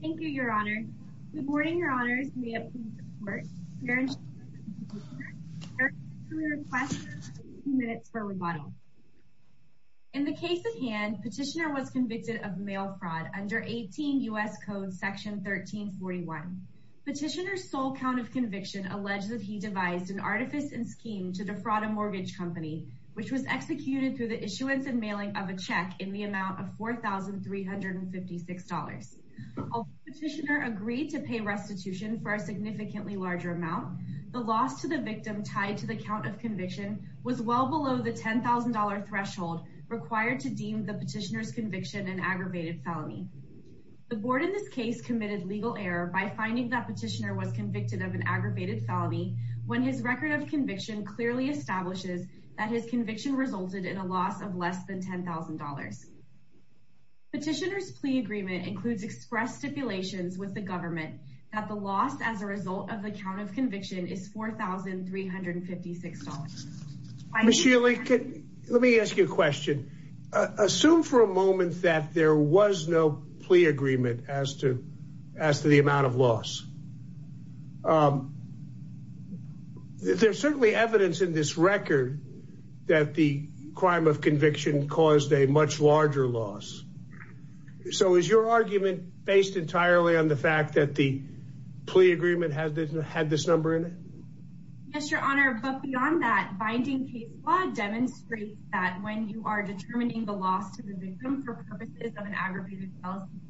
Thank you, your honor. Good morning, your honors. In the case at hand, petitioner was convicted of mail fraud under 18 U.S. Code Section 1341. Petitioner's sole count of conviction alleged that he devised an artifice and scheme to defraud a mortgage company, which was executed through the issuance and mailing of a check in the amount of $4,356. Although petitioner agreed to pay restitution for a significantly larger amount, the loss to the victim tied to the count of conviction was well below the $10,000 threshold required to deem the petitioner's conviction an aggravated felony. The board in this case committed legal error by finding that petitioner was convicted of an aggravated felony when his record of conviction clearly establishes that his conviction resulted in a loss of less than $10,000. Petitioner's plea agreement includes express stipulations with the government that the loss as a result of the count of conviction is $4,356. Ms. Shealy, let me ask you a question. Assume for a moment that there was no plea agreement as to the amount of loss. There's certainly evidence in this record that the crime of conviction caused a much larger loss. So is your argument based entirely on the fact that the plea agreement had this number in it? Yes, your honor. But beyond that, binding case law demonstrates that when you are determining the loss to the victim for purposes of an aggravated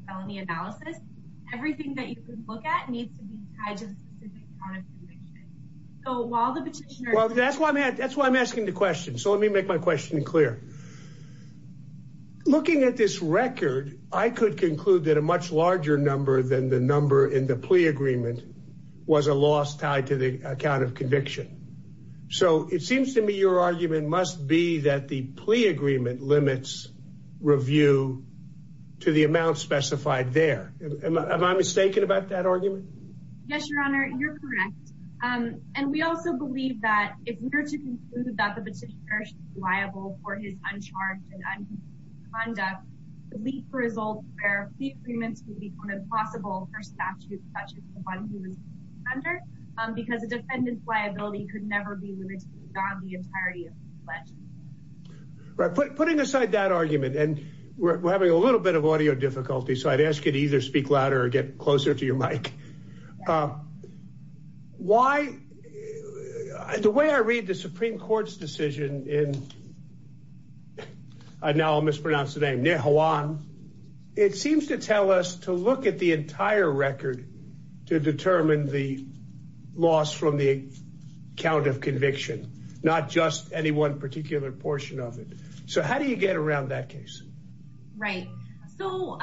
felony analysis, everything that you can look at needs to be tied to the specific count of conviction. So while the petitioner... Well, that's why I'm asking the question. So let me make my question clear. Looking at this record, I could conclude that a much larger number than the number in the plea agreement was a loss tied to the account of conviction. So it seems to me your argument must be that the plea agreement limits review to the amount specified there. Am I mistaken about that argument? Yes, your honor. You're correct. And we also believe that if we were to conclude that the petitioner is liable for his uncharged and unconstitutional conduct, it would lead to results where plea agreements would become impossible for statutes such as the one he was defending under, because a defendant's liability could never be limited beyond the entirety of his pledge. Right. Putting aside that argument, and we're having a little bit of audio difficulty, so I'd ask you to either speak louder or get closer to your mic. Why... The way I read the Supreme Court's decision in, and now I'll mispronounce the name, Nihuan, it seems to tell us to look at the entire record to determine the loss from the account of conviction, not just any one particular portion of it. So how do you get around that case? Right. So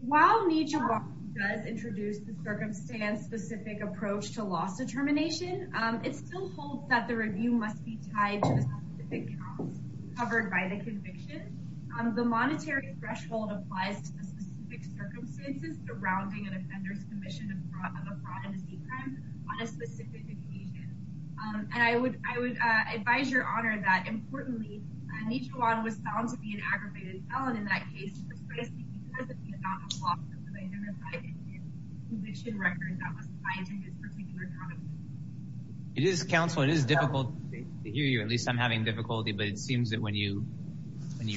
while Nijibar does introduce the circumstance-specific approach to loss determination, it still holds that the review must be tied to the specific counts covered by the conviction. The monetary threshold applies to the specific circumstances surrounding an offender's commission of a fraud and a seat crime on a specific occasion. And I would advise your honor that, importantly, Nijibar was found to be an aggravated felon in that case precisely because of the amount of loss that identified in his conviction record that was tied to this particular comment. It is, counsel, it is difficult to hear you. At least I'm having difficulty, but it seems that when you're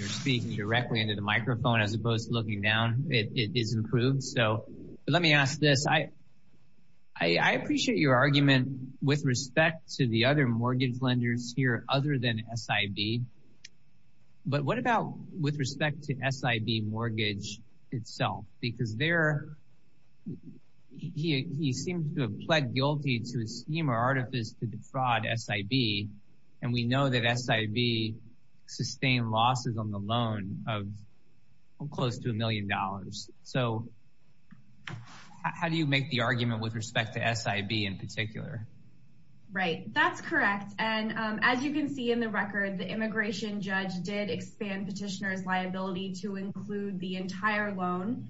speaking directly into the microphone as opposed to looking down, it is improved. So let me ask this. I appreciate your argument with respect to the other mortgage lenders here other than SIB. But what about with respect to SIB mortgage itself? Because there, he seems to have pled guilty to a scheme or artifice to defraud SIB. And we know that SIB sustained losses on the loan of close to a million dollars. So how do you make the argument with respect to SIB in particular? Right, that's correct. And as you can see in the record, the immigration judge did expand petitioner's liability to include the entire loan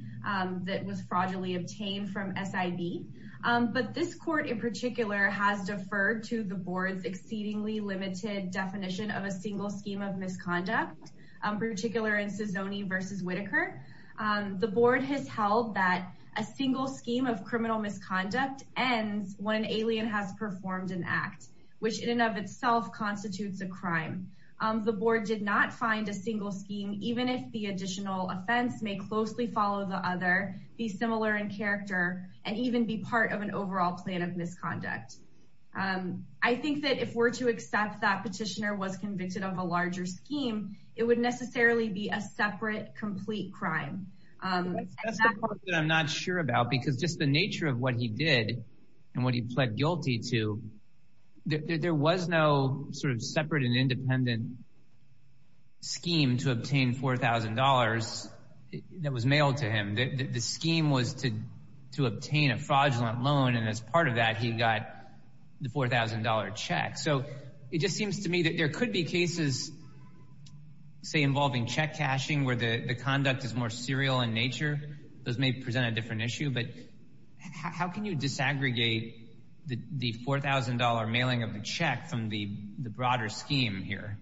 that was fraudulently obtained from SIB. But this court in particular has deferred to the board's exceedingly limited definition of a single scheme of misconduct, particular in Sisoni versus Whitaker. The board has held that a single scheme of criminal misconduct ends when an alien has performed an act, which in and of itself constitutes a crime. The board did not find a single scheme, even if the additional offense may closely follow the other, be similar in character, and even be part of an overall plan of misconduct. I think that if we're to accept that petitioner was convicted of a larger scheme, it would necessarily be a separate, complete crime. That's the part that I'm not sure about, because just the nature of what he did and what he pled guilty to, there was no sort of separate and independent scheme to obtain $4,000 that was mailed to him. The scheme was to obtain a fraudulent loan, and as part of that, he got the $4,000 check. So it just seems to me that there could be cases, say, involving check cashing, where the conduct is more serial in nature. Those may present a different issue, but how can you disaggregate the $4,000 mailing of the check from the broader scheme here?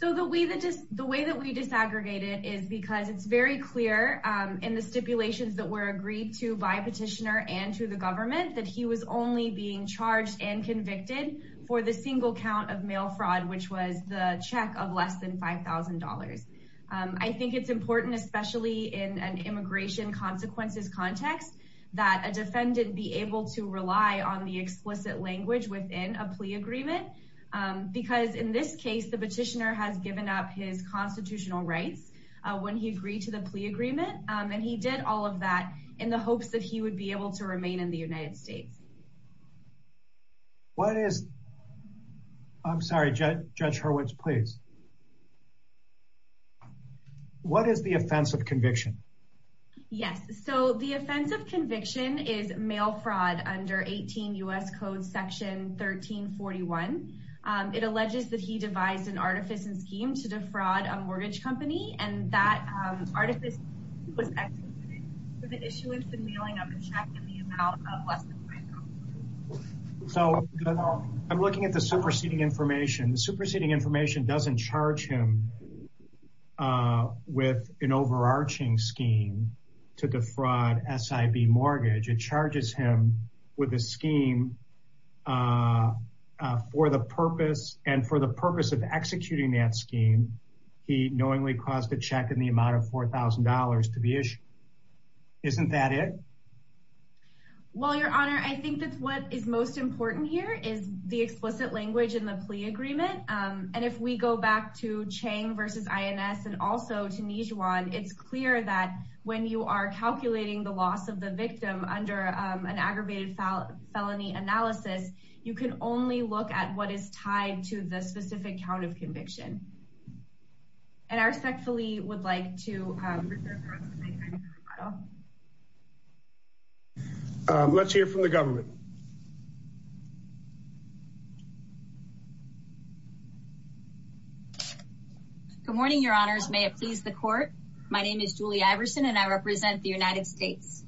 So the way that we disaggregate it is because it's very clear in the stipulations that were agreed to by petitioner and to the government that he was only being charged and convicted for the single count of mail fraud, which was the check of less than $5,000. I think it's important, especially in an immigration consequences context, that a defendant be able to rely on the explicit language within a plea agreement, because in this case, the petitioner has given up his constitutional rights when he agreed to the plea agreement, and he did all of that in the hopes that he would be able to remain in the United States. What is... I'm sorry, Judge Hurwitz, please. What is the offense of conviction? Yes, so the offense of conviction is mail fraud under 18 U.S. Code Section 1341. It alleges that he devised an artifice and scheme to defraud a mortgage company, and that artifice was executed for the issuance and mailing of the check in the amount of less than $4,000. So I'm looking at the superseding information. The superseding information doesn't charge him with an overarching scheme to defraud SIB mortgage. It charges him with a scheme for the purpose, and for the purpose of executing that scheme, he knowingly caused a check in the amount of $4,000 to be issued. Isn't that it? Well, Your Honor, I think that what is most important here is the explicit language in the plea agreement. And if we go back to Chang v. INS and also to Nijuan, it's clear that when you are calculating the loss of the victim under an aggravated felony analysis, you can only look at what is tied to the specific count of conviction. And I respectfully would like to... Let's hear from the government. Good morning, Your Honors. May it please the court. My name is Julie Iverson, and I represent the United States.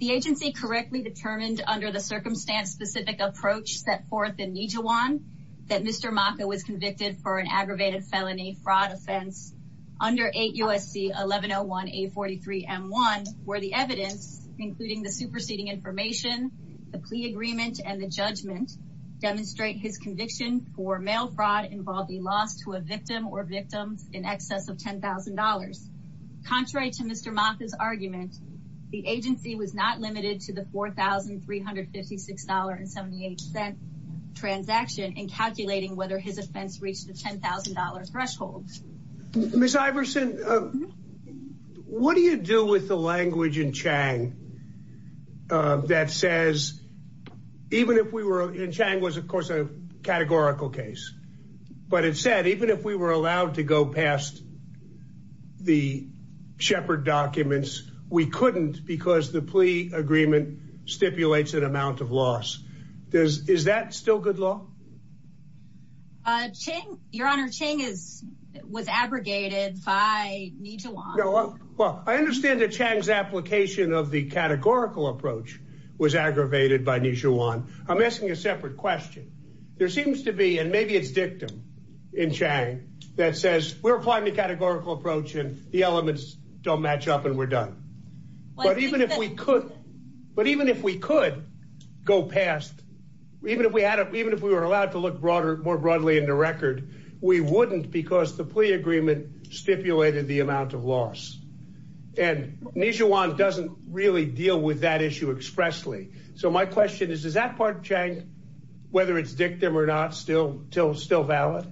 The agency correctly determined under the circumstance specific approach set forth in Nijuan that Mr. Maka was convicted for an aggravated felony fraud offense under 8 U.S.C. 1101-A43-M1, where the evidence, including the superseding information, the plea agreement, and the judgment demonstrate his conviction for mail fraud involved the loss to a victim or victims in excess of $10,000. Contrary to Mr. Maka's argument, the agency was not limited to the $4,356.78 transaction in calculating whether his offense reached the $10,000 threshold. Ms. Iverson, what do you do with the language in Chang that says, even if we were... And Chang was, of course, a categorical case. But it said, even if we were allowed to go past the Shepard documents, we couldn't because the plea agreement stipulates an amount of loss. Is that still good law? Your Honor, Chang was abrogated by Nijuan. Well, I understand that Chang's application of the categorical approach was aggravated by Nijuan. I'm asking a separate question. There seems to be, and maybe it's dictum in Chang that says, we're applying the categorical approach and the elements don't match up and we're done. But even if we could go past, even if we were allowed to look broader, more broadly in the record, we wouldn't because the plea agreement stipulated the amount of loss. And Nijuan doesn't really deal with that issue expressly. So my question is, is that part whether it's dictum or not still valid?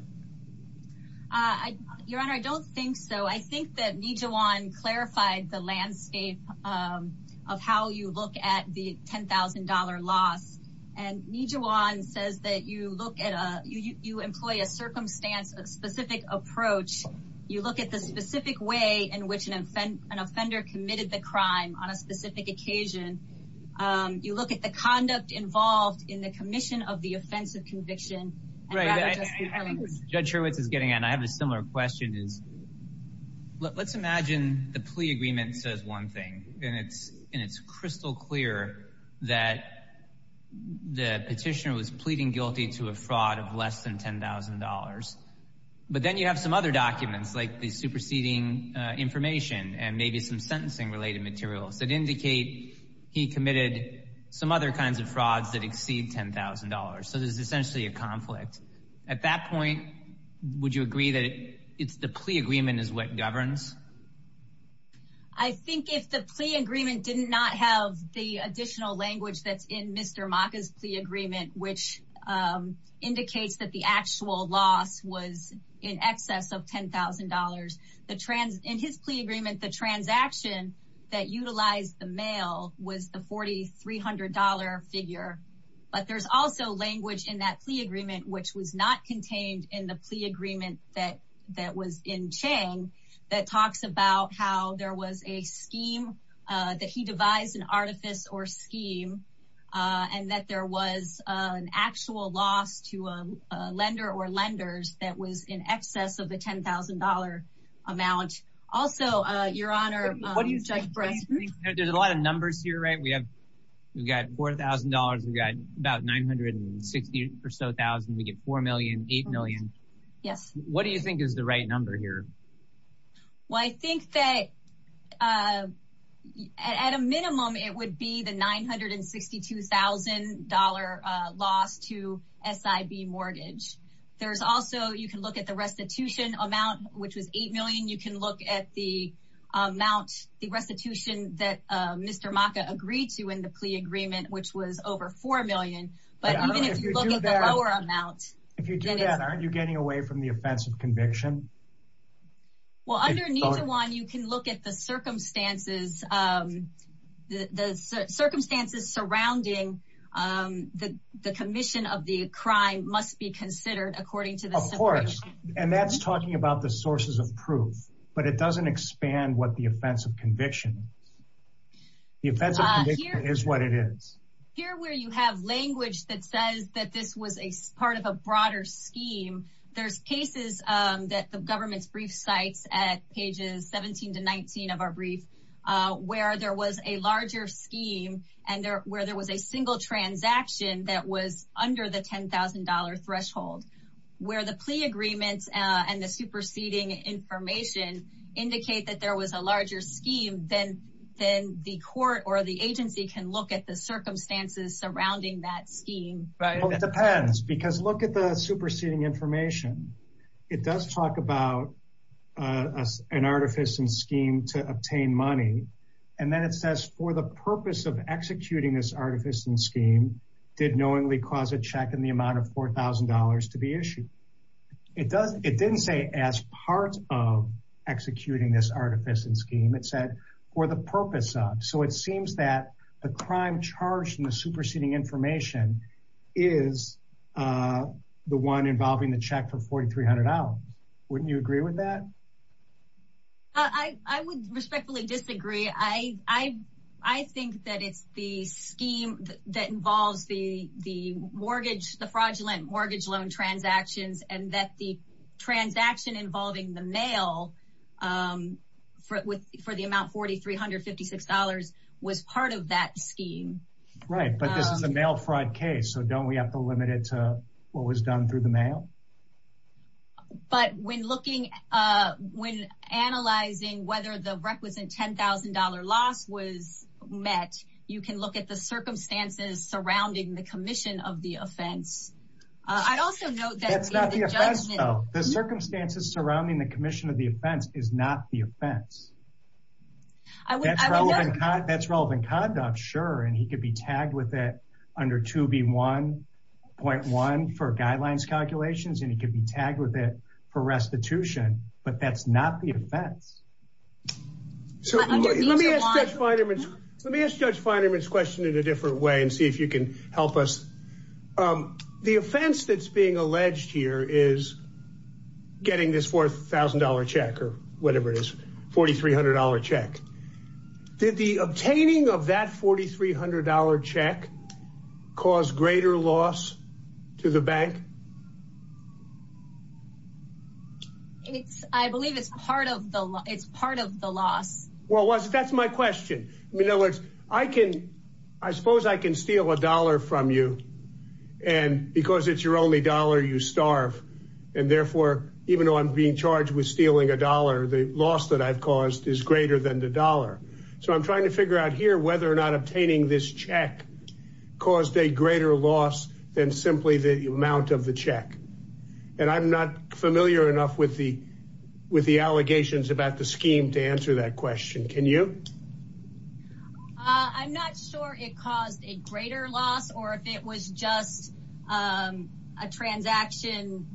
Your Honor, I don't think so. I think that Nijuan clarified the landscape of how you look at the $10,000 loss. And Nijuan says that you look at a, you employ a circumstance, a specific approach. You look at the specific way in which an offender committed the crime on a specific occasion. You look at the conduct involved in the commission of the offense of conviction. Right. Judge Hurwitz is getting in. I have a similar question. Is, let's imagine the plea agreement says one thing and it's crystal clear that the petitioner was pleading guilty to a fraud of less than $10,000. But then you have some other documents like the superseding information and maybe some sentencing related materials that indicate he committed some other kinds of frauds that exceed $10,000. So there's essentially a conflict. At that point, would you agree that it's the plea agreement is what governs? I think if the plea agreement did not have the additional language that's in Mr. Maka's plea agreement, which indicates that the actual loss was in excess of $10,000, the trans in his plea agreement, the transaction that utilized the mail was the $4,300 figure. But there's also language in that plea agreement, which was not contained in the plea agreement that was in Chang that talks about how there was a scheme that he devised an artifice or scheme and that there was an actual loss to a lender or lenders that was in excess of the $10,000 amount. Also, your honor, Judge we get $4,000,000, $8,000,000. What do you think is the right number here? Well, I think that at a minimum, it would be the $962,000 loss to SIB mortgage. There's also, you can look at the restitution amount, which was $8,000,000. You can look at the amount, the restitution that Mr. Maka agreed to in the plea agreement, which was over $4,000,000. But even if you look at the lower amount... If you do that, aren't you getting away from the offense of conviction? Well, underneath the one, you can look at the circumstances, the circumstances surrounding the commission of the crime must be considered according to the situation. Of course, and that's talking about the sources of proof, but it doesn't expand what the offense of conviction is. The offense of conviction is what it is. Here where you have language that says that this was a part of a broader scheme, there's cases that the government's brief cites at pages 17 to 19 of our brief, where there was a larger scheme and where there was a single transaction that was under the $10,000 threshold, where the plea agreements and the superseding information indicate that there was a larger scheme, then the court or the agency can look at the circumstances surrounding that scheme. Right. It depends because look at the superseding information. It does talk about an artifice and scheme to obtain money. And then it says for the purpose of executing this artifice and scheme did knowingly cause a check in the amount of $4,000 to be issued. It didn't say as part of executing this artifice and scheme, it said for the purpose of. So it seems that the crime charged in the superseding information is the one involving the check for $4,300. Wouldn't you agree with that? I would respectfully disagree. I think that it's the fraudulent mortgage loan transactions and that the transaction involving the mail for the amount $4,356 was part of that scheme. Right. But this is a mail fraud case, so don't we have to limit it to what was done through the mail? But when looking, when analyzing whether the requisite $10,000 loss was met, you can look at the circumstances surrounding the commission of the offense. I'd also note that. The circumstances surrounding the commission of the offense is not the offense. That's relevant conduct, sure. And he could be tagged with it under 2B1.1 for guidelines calculations and he could be tagged with it for restitution, but that's not the offense. So let me ask Judge Feinerman's question in a different way and see if you can help us. The offense that's being alleged here is getting this $4,000 check or whatever it is, $4,300 check. Did the obtaining of that $4,300 check cause greater loss to the bank? It's, I believe it's part of the, it's part of the loss. Well, that's my question. In other words, I can, I suppose I can steal a dollar from you and because it's your only dollar, you starve. And therefore, even though I'm being charged with stealing a dollar, the loss that I've caused is greater than the dollar. So I'm trying to figure out here whether or not obtaining this check caused a greater loss than simply the amount of the check. And I'm not familiar enough with the, with the allegations about the scheme to answer that question. Can you? I'm not sure it caused a greater loss or if it was just a transaction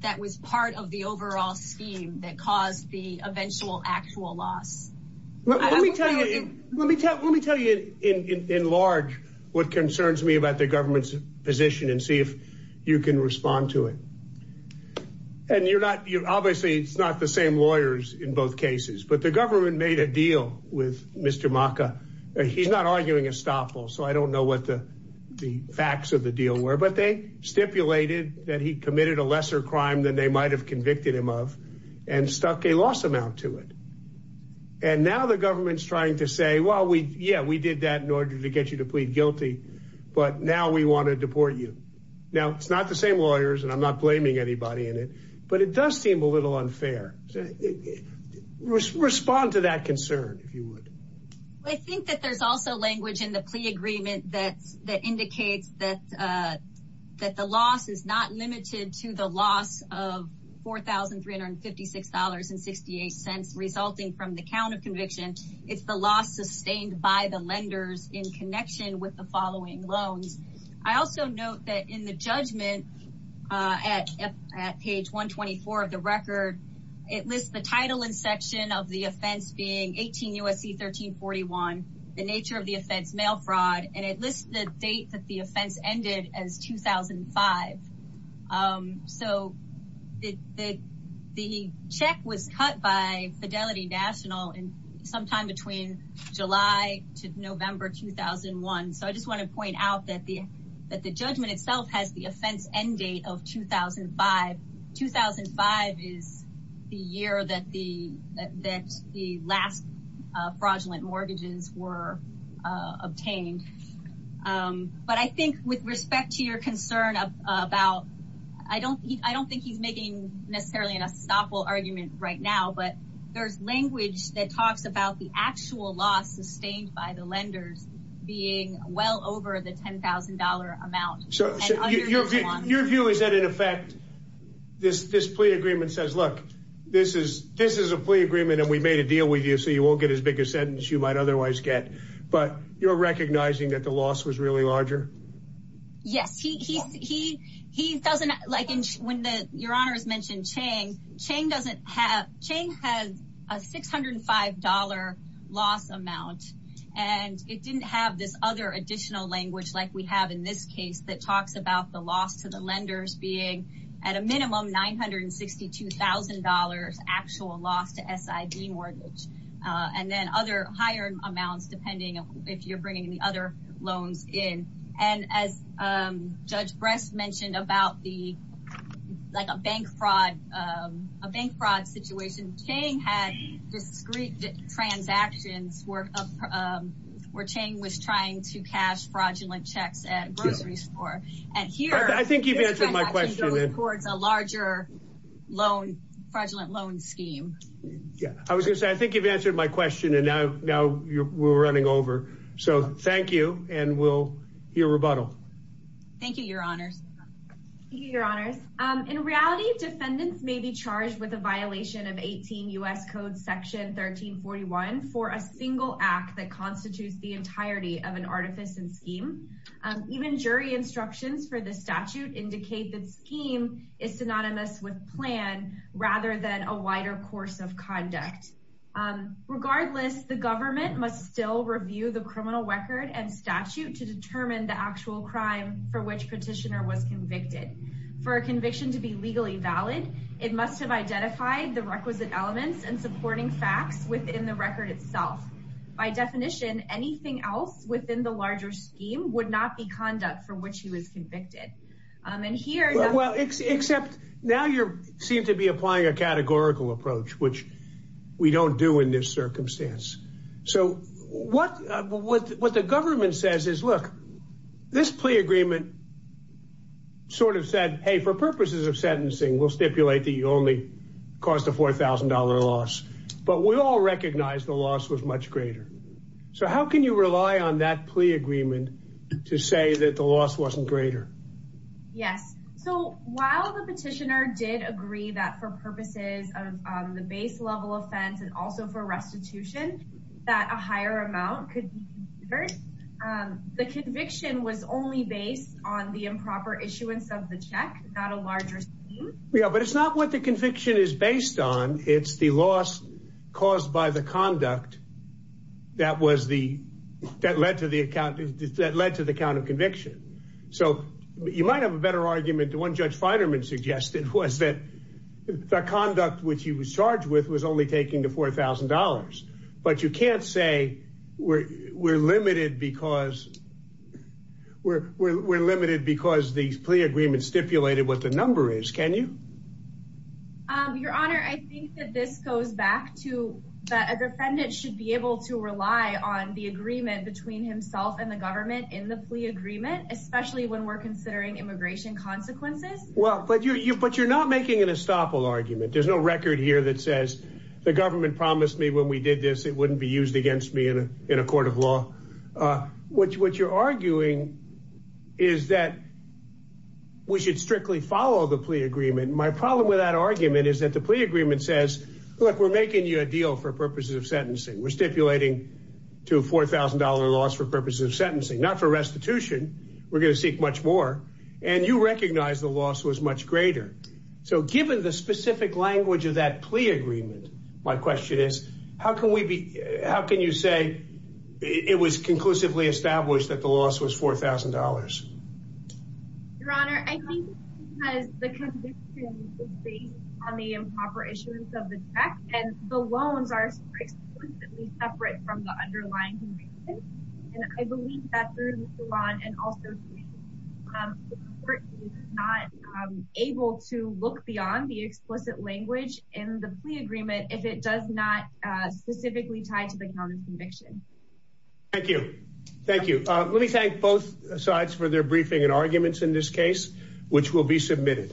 that was part of the overall scheme that caused the eventual actual loss. Let me tell you, let me tell you in large what concerns me about the government's and see if you can respond to it. And you're not, you're obviously it's not the same lawyers in both cases, but the government made a deal with Mr. Maka. He's not arguing estoppel. So I don't know what the facts of the deal were, but they stipulated that he committed a lesser crime than they might've convicted him of and stuck a loss amount to it. And now the government's trying to say, well, we, yeah, we did that in order to get you to plead guilty, but now we want to deport you. Now it's not the same lawyers and I'm not blaming anybody in it, but it does seem a little unfair. Respond to that concern. If you would. Well, I think that there's also language in the plea agreement that, that indicates that, that the loss is not limited to the loss of $4,356.68 resulting from the count of conviction. It's the loss sustained by the lenders in connection with the following loans. I also note that in the judgment at, at page 124 of the record, it lists the title and section of the offense being 18 USC, 1341, the nature of the offense, mail fraud. And it lists the date that the offense ended as 2005. So the, the, the check was cut by Fidelity National and sometime between July to November, 2001. So I just want to point out that the, that the judgment itself has the offense end date of 2005, 2005 is the year that the, that the last fraudulent mortgages were obtained. But I think with respect to your concern about, I don't, I don't think he's making necessarily an unstoppable argument right now, but there's language that talks about the actual loss sustained by the lenders being well over the $10,000 amount. Your view is that in effect, this, this plea agreement says, look, this is, this is a plea agreement and we made a deal with you so you won't get as big a sentence you might otherwise get, but you're recognizing that the loss was really larger. Yes, he, he, he, he doesn't like when the, your honors mentioned Chang, Chang doesn't have, Chang has a $605 loss amount and it didn't have this other additional language like we have in this case that talks about the loss to the lenders being at a minimum $962,000 actual loss to SID mortgage. And then other higher amounts, depending if you're bringing any other loans in. And as Judge Bress mentioned about the, like a bank fraud, a bank fraud situation, Chang had discrete transactions where, where Chang was trying to cash fraudulent checks at a grocery store. And here, I think you've answered my question. Towards a larger loan, fraudulent loan scheme. Yeah, I was gonna say, I think you've answered my question and now, now we're running over. So thank you. And we'll hear rebuttal. Thank you, your honors. Thank you, your honors. In reality, defendants may be charged with a violation of 18 U.S. code section 1341 for a single act that constitutes the entirety of an artifice and scheme. Even jury instructions for the statute indicate that scheme is synonymous with plan rather than a wider course of conduct. Regardless, the government must still review the criminal record and statute to determine the actual crime for which petitioner was convicted. For a conviction to be legally valid, it must have identified the requisite elements and supporting facts within the record itself. By definition, anything else within the larger scheme would not be conduct for which he was convicted. And here, well, except now you're seem to be applying a categorical approach, which we don't do in this circumstance. So what, what, what the government says is, look, this plea agreement sort of said, hey, for purposes of sentencing, we'll stipulate that you only caused a $4,000 loss, but we all recognize the loss was much greater. So how can you rely on that plea agreement to say that the loss wasn't greater? Yes. So while the petitioner did agree that for purposes of the base level offense and also for restitution, that a higher amount could be considered, the conviction was only based on the improper issuance of the check, not a larger scheme. Yeah, but it's not what the conviction is based on. It's the loss caused by the conduct that was the, that led to the account, that led to the count of conviction. So you might have a better argument. The one Judge Feinerman suggested was that the conduct which he was charged with was only taking the $4,000. But you can't say we're, we're limited because we're, we're, we're limited because these plea agreements stipulated what the a defendant should be able to rely on the agreement between himself and the government in the plea agreement, especially when we're considering immigration consequences. Well, but you, but you're not making an estoppel argument. There's no record here that says the government promised me when we did this, it wouldn't be used against me in a court of law. What you're arguing is that we should strictly follow the plea agreement. My problem with that deal for purposes of sentencing, we're stipulating to $4,000 loss for purposes of sentencing, not for restitution. We're going to seek much more. And you recognize the loss was much greater. So given the specific language of that plea agreement, my question is, how can we be, how can you say it was conclusively established that the loss was $4,000? Your Honor, I think because the conviction is based on the improper issuance of the check and the loans are explicitly separate from the underlying conviction. And I believe that through the salon and also the court is not able to look beyond the explicit language in the plea agreement. If it does not specifically tie to the counter conviction. Thank you. Thank you. Let me thank both sides for their briefing and arguments in this case, which will be submitted.